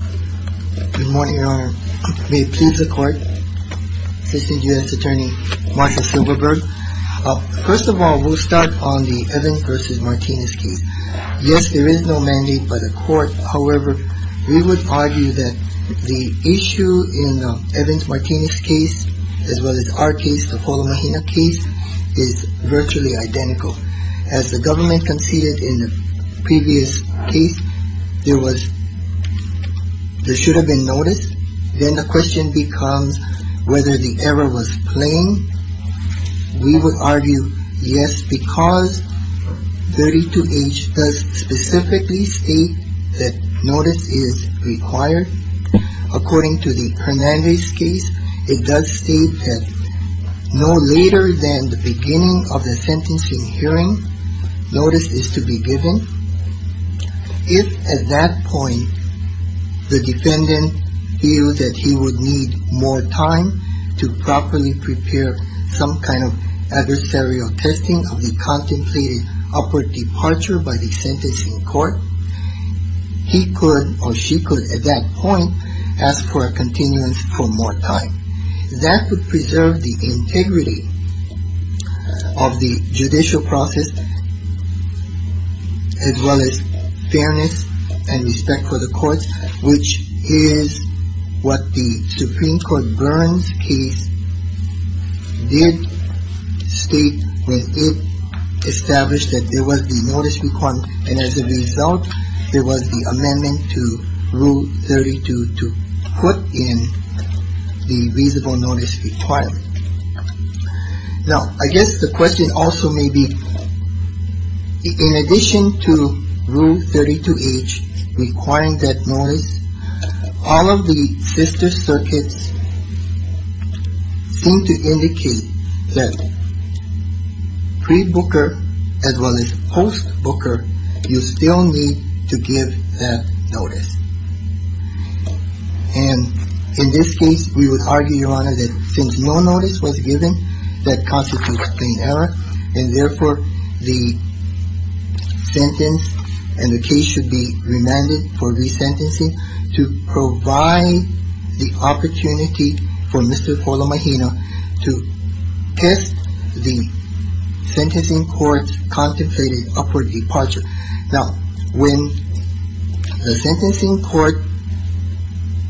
Good morning, your honor. May it please the court. Assistant U.S. Attorney Marshall Silverberg. First of all, we'll start on the Evans v. Martinez case. Yes, there is no mandate by the court. However, we would argue that the issue in Evans-Martinez case, as well as our case, the Foulahahina case, is virtually identical. As the government conceded in the previous case, there should have been notice. Then the question becomes whether the error was plain. We would argue yes, because 32H does specifically state that notice is required. According to the Hernandez case, it does state that no later than the beginning of the sentencing hearing, notice is to be given. If at that point, the defendant feels that he would need more time to properly prepare some kind of adversarial testing of the contemplated upward departure by the sentencing court, he could, or she could, at that point, ask for a continuance for more time. That would preserve the integrity of the judicial process, as well as fairness and respect for the courts, which is what the Supreme Court Burns case did state when it established that there was a notice requirement. And as a result, there was the amendment to Rule 32 to put in the reasonable notice requirement. Now, I guess the question also may be, in addition to Rule 32H requiring that notice, all of the sister circuits seem to indicate that pre-Booker, as well as post-Booker, you still need to give that notice. And in this case, we would argue, Your Honor, that since no notice was given, that constitutes plain error, and therefore, the sentence and the case should be remanded for resentencing to provide the opportunity for Mr. Paula Mahina to test the sentencing court's contemplated upward departure. Now, when the sentencing court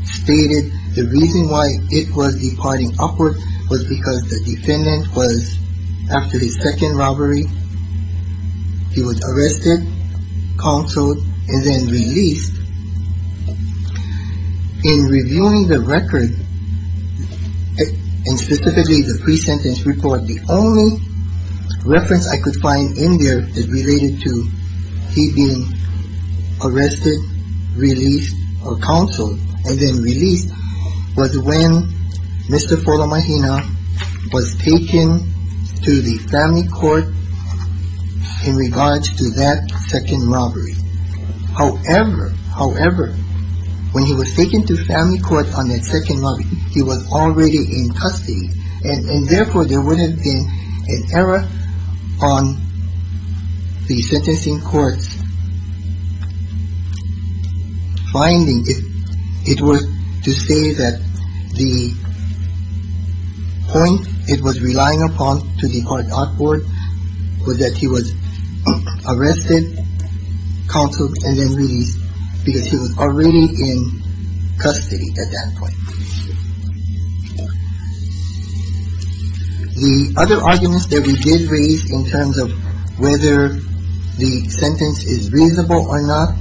stated the reason why it was departing upward was because the defendant was, after his second robbery, he was arrested, counseled, and then released, in reviewing the record, and specifically the pre-sentence report, the only reference I could find in there that related to he being arrested, released, or counseled, and then released, was when Mr. Paula Mahina was taken to the family court in regards to that second robbery. However, however, when he was taken to family court on that second robbery, he was already in custody, and therefore, there wouldn't have been an error on the sentencing court's finding if it were to say that the point it was relying upon to depart upward was that he was arrested, counseled, and then released, because he was already in custody at that point. The other arguments that we did raise in terms of whether the sentence is reasonable or not,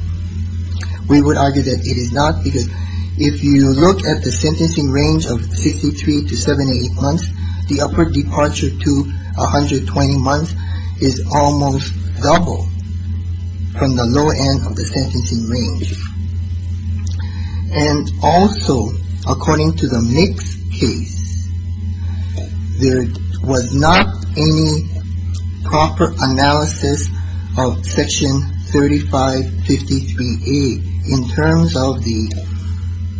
we would argue that it is not, because if you look at the sentencing range of 63 to 78 months, the upward departure to 120 months is almost double. From the lower end of the sentencing range, and also, according to the NICS case, there was not any proper analysis of Section 3553A in terms of the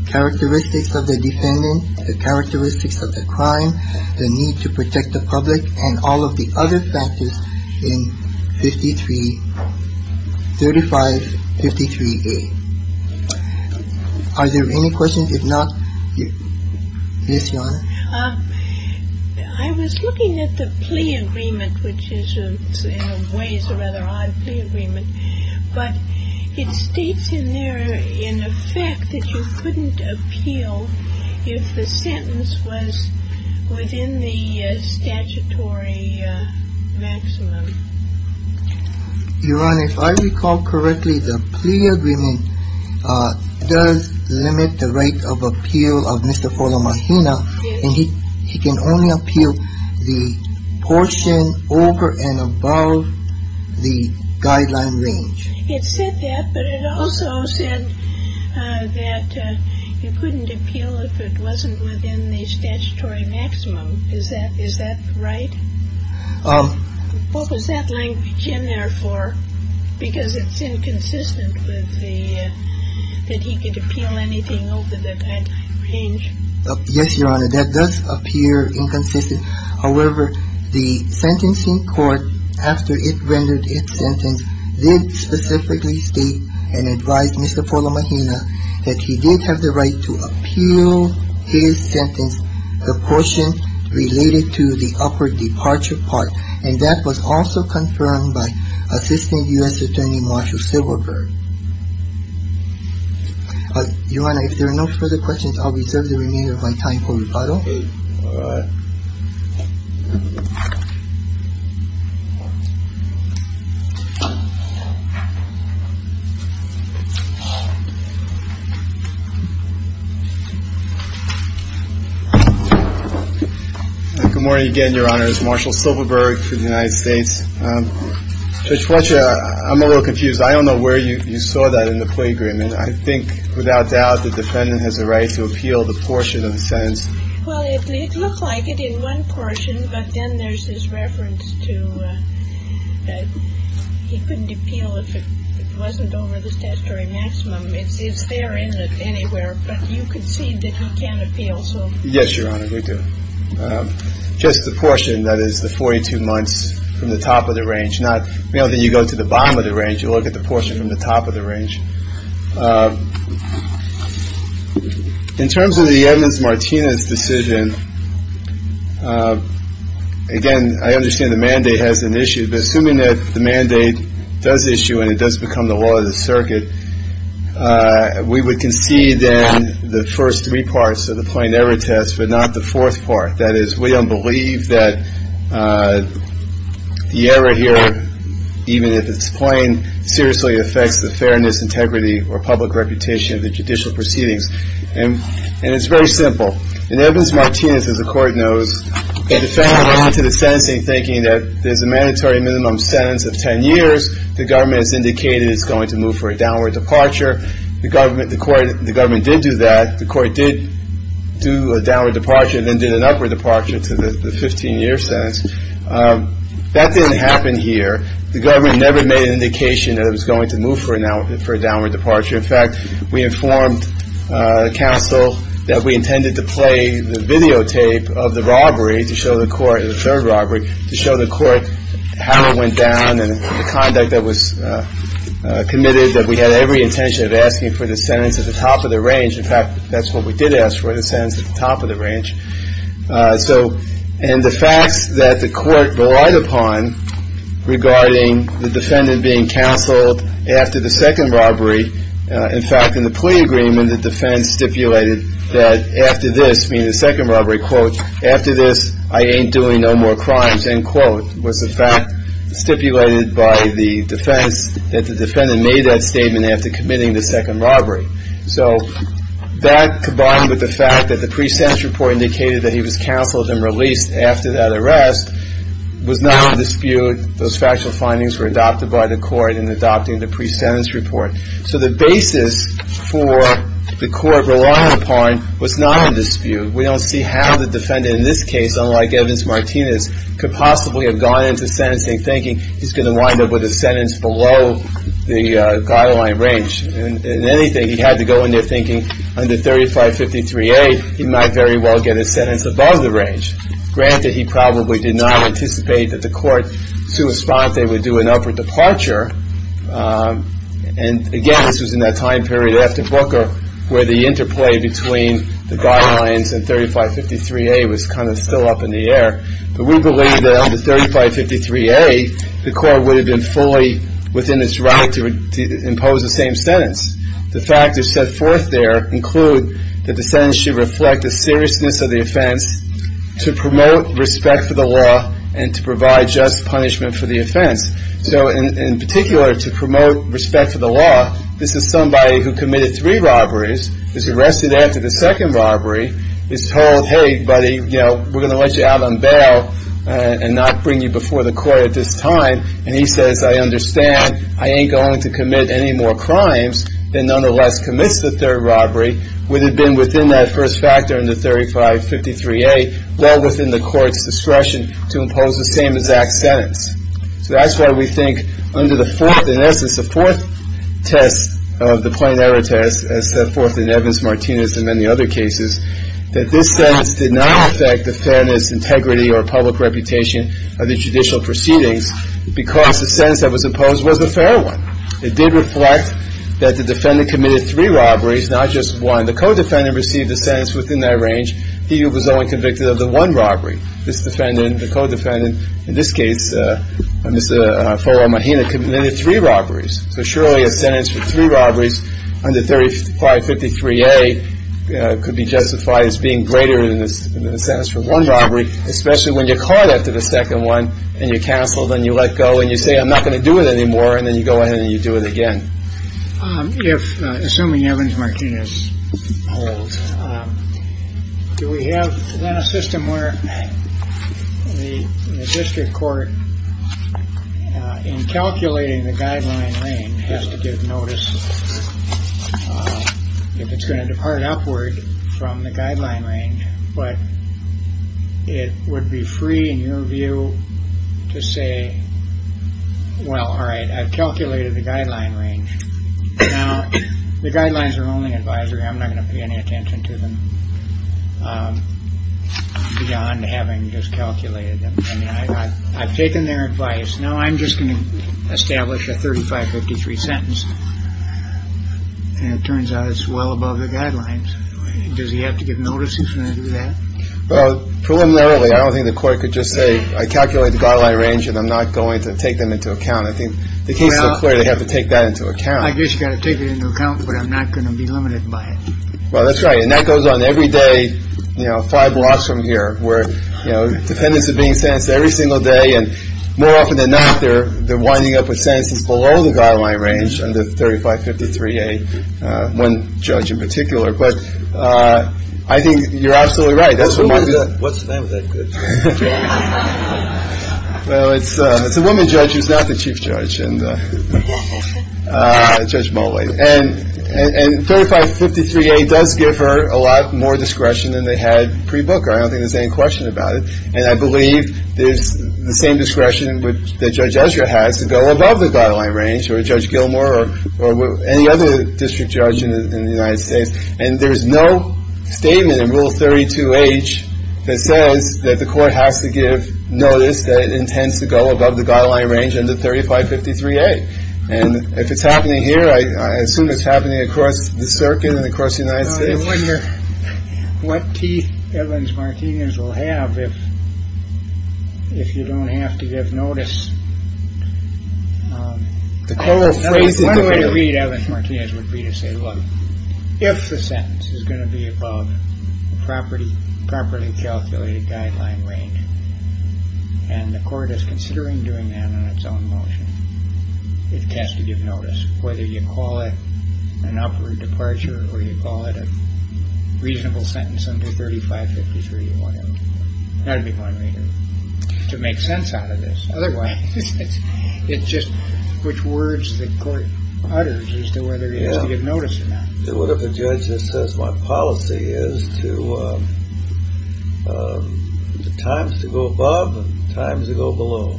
characteristics of the defendant, the characteristics of the crime, the need to protect the public, and all of the other factors in Section 3553A. Are there any questions? If not, Ms. Yonner? I was looking at the plea agreement, which is, in a way, is a rather odd plea agreement, but it states in there, in effect, that you couldn't appeal if the sentence was within the statutory maximum. Your Honor, if I recall correctly, the plea agreement does limit the right of appeal of Mr. Forlamagina, and he can only appeal the portion over and above the guideline range. It said that, but it also said that you couldn't appeal if it wasn't within the statutory maximum. Is that right? What was that language in there for? Because it's inconsistent with the, that he could appeal anything over that guideline range. Yes, Your Honor, that does appear inconsistent. However, the sentencing court, after it rendered its sentence, did specifically state and advise Mr. Forlamagina that he did have the right to appeal his sentence, the portion related to the upward departure part, and that was also confirmed by Assistant U.S. Attorney Marshall Silverberg. Your Honor, if there are no further questions, I'll reserve the remainder of my time for rebuttal. All right. Good morning again, Your Honors. Marshall Silverberg for the United States. Judge Fletcher, I'm a little confused. I don't know where you saw that in the plea agreement. I think, without doubt, the defendant has a right to appeal the portion of the sentence. Well, it looked like it in one portion, but then there's this reference to he couldn't appeal if it wasn't over the statutory maximum. It's there, isn't it, anywhere, but you concede that he can appeal. Yes, Your Honor, we do. Just the portion that is the 42 months from the top of the range, not, you know, then you go to the bottom of the range. You look at the portion from the top of the range. In terms of the evidence, Martinez's decision, again, I understand the mandate has an issue, but assuming that the mandate does issue and it does become the law of the circuit, we would concede then the first three parts of the plain error test, but not the fourth part. That is, we don't believe that the error here, even if it's plain, seriously affects the fairness, integrity, or public reputation of the judicial proceedings. And it's very simple. In evidence, Martinez, as the Court knows, the defendant went into the sentencing thinking that there's a mandatory minimum sentence of 10 years. The government has indicated it's going to move for a downward departure. The government did do that. The court did do a downward departure and then did an upward departure to the 15-year sentence. That didn't happen here. The government never made an indication that it was going to move for a downward departure. In fact, we informed the counsel that we intended to play the videotape of the robbery to show the court, how it went down and the conduct that was committed, that we had every intention of asking for the sentence at the top of the range. In fact, that's what we did ask for, the sentence at the top of the range. And the facts that the court relied upon regarding the defendant being counseled after the second robbery, in fact, in the plea agreement, the defense stipulated that after this, meaning the second robbery, quote, after this, I ain't doing no more crimes, end quote, was the fact stipulated by the defense that the defendant made that statement after committing the second robbery. So that, combined with the fact that the pre-sentence report indicated that he was counseled and released after that arrest, was not in dispute. Those factual findings were adopted by the court in adopting the pre-sentence report. So the basis for the court relying upon was not in dispute. We don't see how the defendant in this case, unlike Evans-Martinez, could possibly have gone into sentencing thinking he's going to wind up with a sentence below the guideline range. In anything, he had to go in there thinking under 3553A, he might very well get a sentence above the range. Granted, he probably did not anticipate that the court would do an upper departure. And again, this was in that time period after Booker where the interplay between the guidelines and 3553A was kind of still up in the air. But we believe that under 3553A, the court would have been fully within its right to impose the same sentence. The factors set forth there include that the sentence should reflect the seriousness of the offense to promote respect for the law and to provide just punishment for the offense. So in particular, to promote respect for the law, this is somebody who committed three robberies, is arrested after the second robbery, is told, hey, buddy, you know, we're going to let you out on bail and not bring you before the court at this time. And he says, I understand, I ain't going to commit any more crimes, then nonetheless commits the third robbery, would have been within that first factor under 3553A, well within the court's discretion to impose the same exact sentence. So that's why we think under the fourth, in essence, the fourth test of the plain error test, as set forth in Evans, Martinez, and many other cases, that this sentence did not affect the fairness, integrity, or public reputation of the judicial proceedings because the sentence that was imposed was a fair one. It did reflect that the defendant committed three robberies, not just one. The co-defendant received a sentence within that range. He was only convicted of the one robbery. This defendant, the co-defendant, in this case, Mr. Folo Martinez, committed three robberies. So surely a sentence for three robberies under 3553A could be justified as being greater than a sentence for one robbery, especially when you're caught after the second one and you're canceled and you let go and you say, I'm not going to do it anymore, and then you go ahead and you do it again. If, assuming Evans, Martinez holds, do we have a system where the district court, in calculating the guideline range, has to give notice if it's going to depart upward from the guideline range, but it would be free, in your view, to say, well, all right, I've calculated the guideline range. Now, the guidelines are only advisory. I'm not going to pay any attention to them beyond having just calculated them. I mean, I've taken their advice. Now I'm just going to establish a 3553 sentence. And it turns out it's well above the guidelines. Does he have to give notice if he's going to do that? Well, preliminarily, I don't think the court could just say, I calculated the guideline range and I'm not going to take them into account. I think the case is so clear they have to take that into account. I guess you've got to take it into account, but I'm not going to be limited by it. Well, that's right. And that goes on every day, you know, five blocks from here where, you know, dependents are being sentenced every single day. And more often than not, they're winding up with sentences below the guideline range under 3553A. One judge in particular. But I think you're absolutely right. What's the name of that judge? Well, it's a woman judge who's not the chief judge, Judge Mulway. And 3553A does give her a lot more discretion than they had pre-Booker. I don't think there's any question about it. And I believe there's the same discretion that Judge Ezra has to go above the guideline range or Judge Gilmore or any other district judge in the United States. And there is no statement in Rule 32H that says that the court has to give notice that it intends to go above the guideline range under 3553A. And if it's happening here, I assume it's happening across the circuit and across the United States. I wonder what teeth Evans-Martinez will have if you don't have to give notice. One way to read Evans-Martinez would be to say, look, if the sentence is going to be above the properly calculated guideline range and the court is considering doing that on its own motion, it has to give notice. Whether you call it an upward departure or you call it a reasonable sentence under 3553A. That would be one way to make sense out of this. Otherwise, it's just which words the court utters as to whether it is to give notice or not. Whatever the judge says, my policy is to times to go above and times to go below.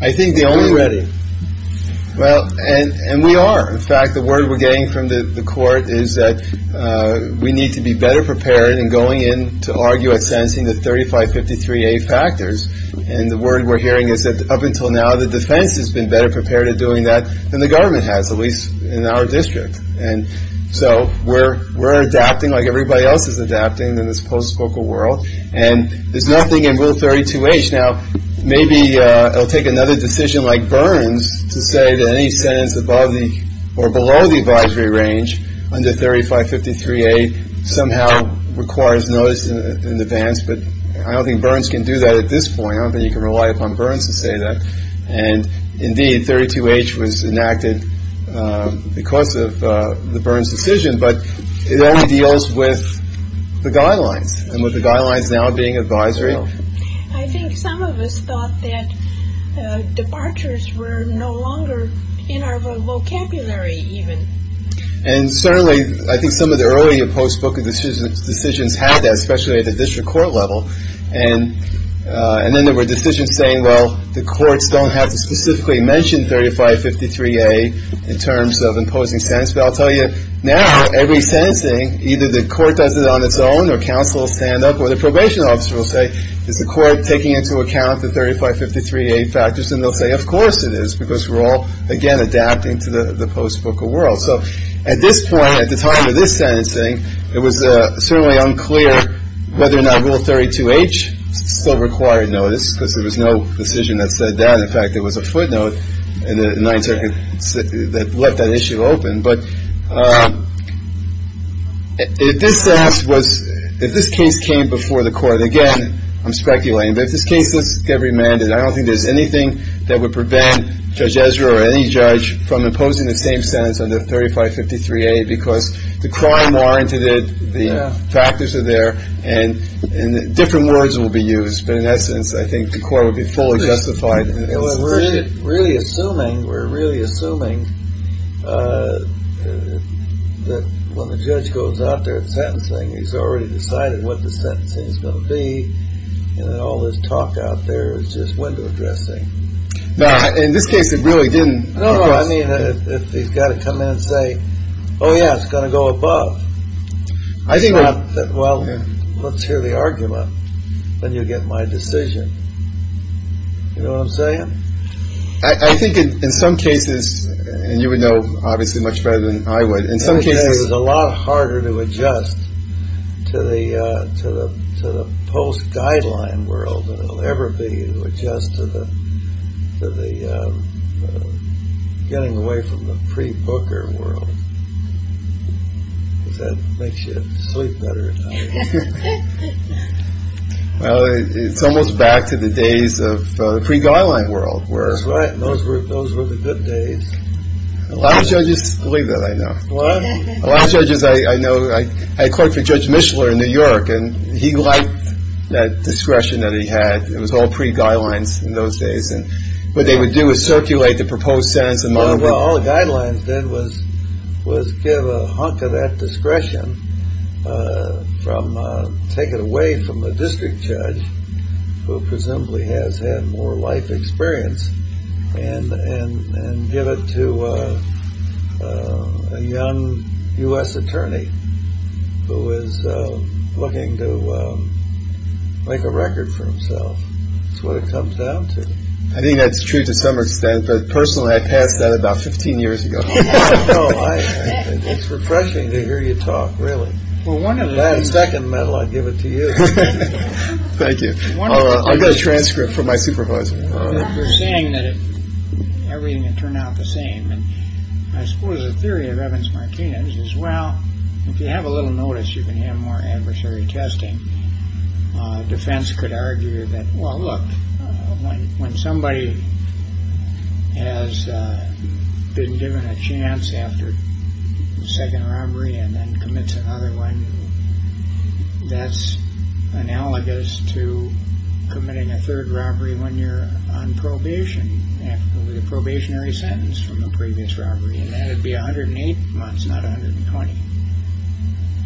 I think the only way. Well, and we are. In fact, the word we're getting from the court is that we need to be better prepared in going in to argue at sentencing the 3553A factors. And the word we're hearing is that up until now, the defense has been better prepared at doing that than the government has, at least in our district. And so we're adapting like everybody else is adapting in this post-trial world. And there's nothing in Rule 32H. Now, maybe it'll take another decision like Burns to say that any sentence above or below the advisory range under 3553A somehow requires notice in advance. But I don't think Burns can do that at this point. I don't think you can rely upon Burns to say that. And indeed, 32H was enacted because of the Burns decision. But it only deals with the guidelines and with the guidelines now being advisory. I think some of us thought that departures were no longer in our vocabulary even. And certainly, I think some of the earlier post-booking decisions had that, especially at the district court level. And then there were decisions saying, well, the courts don't have to specifically mention 3553A in terms of imposing sentencing. But I'll tell you, now every sentencing, either the court does it on its own or counsel will stand up or the probation officer will say, is the court taking into account the 3553A factors? And they'll say, of course it is, because we're all, again, adapting to the post-booker world. So at this point, at the time of this sentencing, it was certainly unclear whether or not Rule 32H still required notice, because there was no decision that said that. In fact, there was a footnote in the Ninth Circuit that left that issue open. But if this case came before the court, again, I'm speculating, but if this case does get remanded, I don't think there's anything that would prevent Judge Ezra or any judge from imposing the same sentence on the 3553A, because the crime warranted it, the factors are there, and different words will be used. But in essence, I think the court would be fully justified. We're really assuming that when the judge goes out there at sentencing, he's already decided what the sentencing is going to be, and all this talk out there is just window dressing. In this case, it really didn't. I mean, he's got to come in and say, oh, yeah, it's going to go above. Well, let's hear the argument. Then you'll get my decision. You know what I'm saying? I think in some cases, and you would know obviously much better than I would. In some cases, it's a lot harder to adjust to the post-guideline world than it will ever be to adjust to the getting away from the pre-booker world. Does that make you sleep better? Well, it's almost back to the days of the pre-guideline world. That's right. Those were the good days. A lot of judges believe that, I know. What? A lot of judges, I know. I clerked for Judge Mishler in New York, and he liked that discretion that he had. It was all pre-guidelines in those days. What they would do is circulate the proposed sentence. All the guidelines did was give a hunk of that discretion, take it away from the district judge, who presumably has had more life experience, and give it to a young U.S. attorney who is looking to make a record for himself. That's what it comes down to. I think that's true to some extent, but personally, I passed that about 15 years ago. It's refreshing to hear you talk, really. Well, one of the last second medal I'd give it to you. Thank you. I've got a transcript from my supervisor. You're saying that everything had turned out the same. I suppose the theory of Evans-Martinez is, well, if you have a little notice, you can have more adversary testing. A defense could argue that, well, look, when somebody has been given a chance after the second robbery and then commits another one, that's analogous to committing a third robbery when you're on probation, after the probationary sentence from the previous robbery, and that would be 108 months, not 120.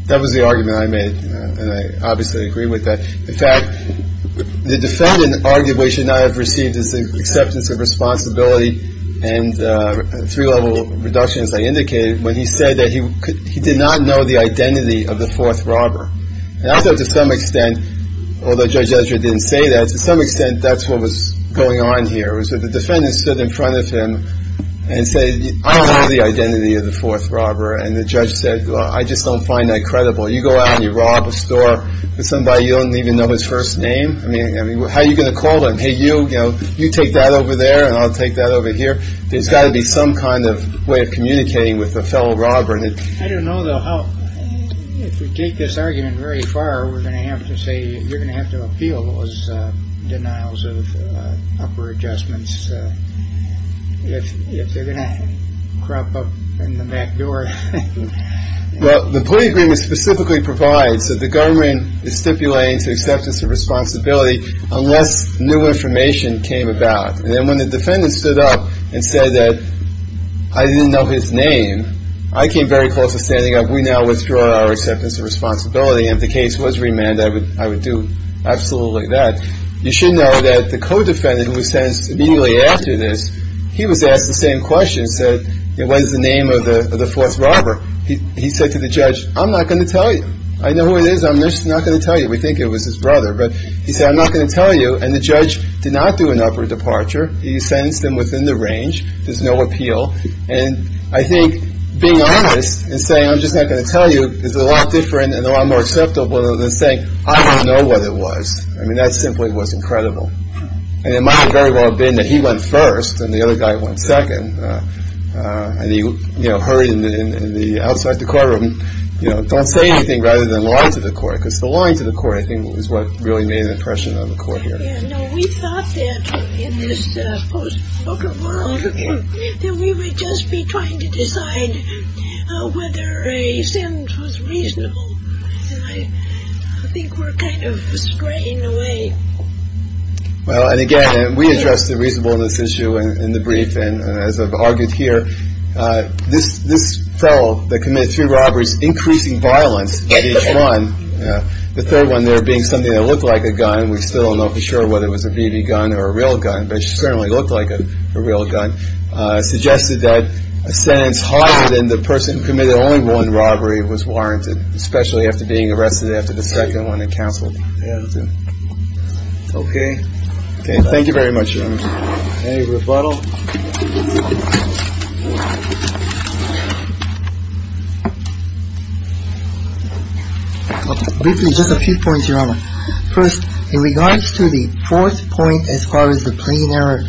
That was the argument I made, and I obviously agree with that. In fact, the defendant argued we should not have received his acceptance of responsibility and three-level reduction, as I indicated, when he said that he did not know the identity of the fourth robber. And I thought to some extent, although Judge Ezra didn't say that, to some extent that's what was going on here, was that the defendant stood in front of him and said, I don't know the identity of the fourth robber. And the judge said, well, I just don't find that credible. You go out and you rob a store with somebody you don't even know his first name. I mean, how are you going to call him? Hey, you take that over there and I'll take that over here. There's got to be some kind of way of communicating with a fellow robber. I don't know, though, how, if we take this argument very far, we're going to have to say you're going to have to appeal those denials of upper adjustments. If they're going to crop up in the back door. Well, the plea agreement specifically provides that the government is stipulating to acceptance of responsibility unless new information came about. And then when the defendant stood up and said that I didn't know his name, I came very close to standing up. We now withdraw our acceptance of responsibility. And if the case was remanded, I would do absolutely that. You should know that the co-defendant who was sentenced immediately after this, he was asked the same question. He said, what is the name of the false robber? He said to the judge, I'm not going to tell you. I know who it is. I'm just not going to tell you. We think it was his brother. But he said, I'm not going to tell you. And the judge did not do an upper departure. He sentenced him within the range. There's no appeal. And I think being honest and saying I'm just not going to tell you is a lot different and a lot more acceptable than saying I don't know what it was. I mean, that simply was incredible. And it might very well have been that he went first and the other guy went second. And he, you know, hurried in the outside of the courtroom. You know, don't say anything rather than lie to the court. Because the lying to the court, I think, is what really made an impression on the court here. Yeah. No, we thought that in this supposed broken world that we would just be trying to decide whether a sentence was reasonable. And I think we're kind of straying away. Well, and again, we addressed the reasonableness issue in the brief. And as I've argued here, this fellow that committed three robberies, increasing violence at each one, the third one there being something that looked like a gun, we still don't know for sure whether it was a BB gun or a real gun, but it certainly looked like a real gun, suggested that a sentence higher than the person committed only one robbery was warranted, especially after being arrested after the second one and counseled. OK. Thank you very much. Any rebuttal? OK. Just a few points, Your Honor. First, in regards to the fourth point, as far as the plain error.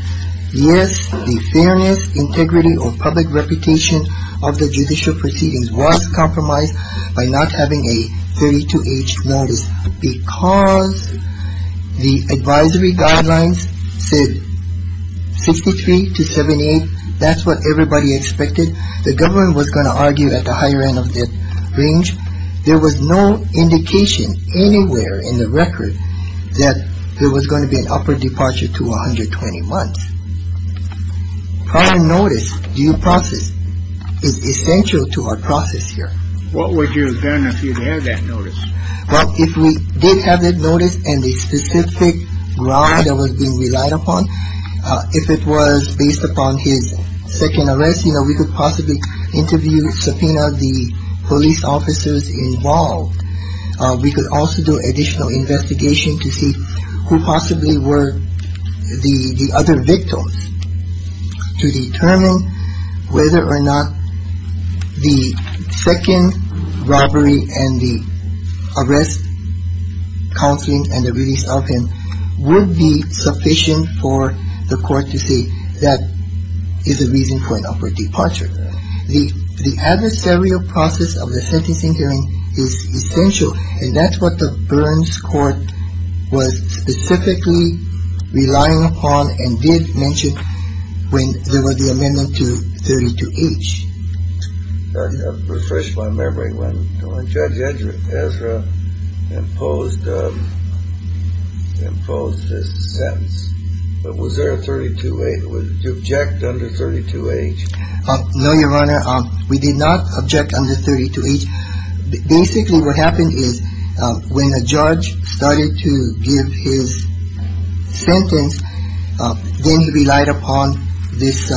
Yes, the fairness, integrity or public reputation of the judicial proceedings was compromised by not having a 32-H notice because the advisory guidelines said 63 to 78. That's what everybody expected. The government was going to argue at the higher end of the range. There was no indication anywhere in the record that there was going to be an upward departure to 120 months. Prior notice due process is essential to our process here. What would you have done if you had that notice? Well, if we did have that notice and the specific ground that was being relied upon, if it was based upon his second arrest, you know, we could possibly interview, subpoena the police officers involved. We could also do additional investigation to see who possibly were the other victims to determine whether or not the second robbery and the arrest, counseling and the release of him would be sufficient for the court to see that is a reason for an upward departure. The adversarial process of the sentencing hearing is essential. And that's what the Burns court was specifically relying upon and did mention when there was the amendment to 32-H. I refresh my memory when Judge Ezra imposed this sentence. But was there a 32-H, to object under 32-H? No, Your Honor. We did not object under 32-H. Basically what happened is when a judge started to give his sentence, then he relied upon this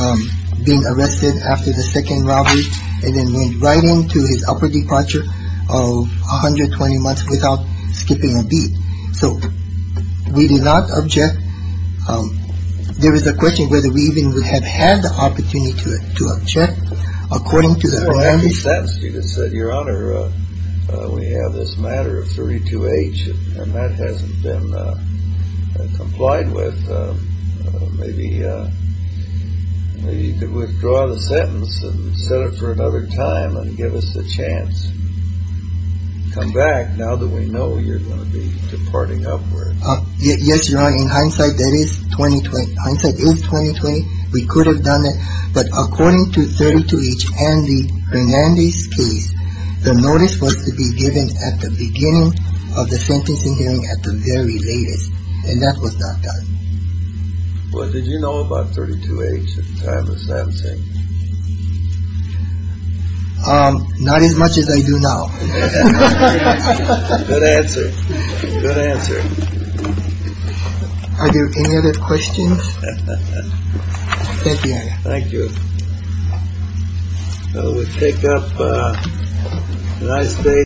being arrested after the second robbery and then went right into his upward departure of 120 months without skipping a beat. So we did not object. There is a question whether we even would have had the opportunity to object according to the amendment. Your Honor, we have this matter of 32-H and that hasn't been complied with. Maybe you could withdraw the sentence and set it for another time and give us a chance. Come back now that we know you're going to be departing upward. Yes, Your Honor. In hindsight, that is 2020. Hindsight is 2020. We could have done it. But according to 32-H and the Hernandez case, the notice was to be given at the beginning of the sentencing hearing at the very latest. And that was not done. Well, did you know about 32-H at the time of Sam Singh? Not as much as I do now. Good answer. Good answer. Are there any other questions? Thank you, Your Honor. Thank you. Well, we take up a nice day.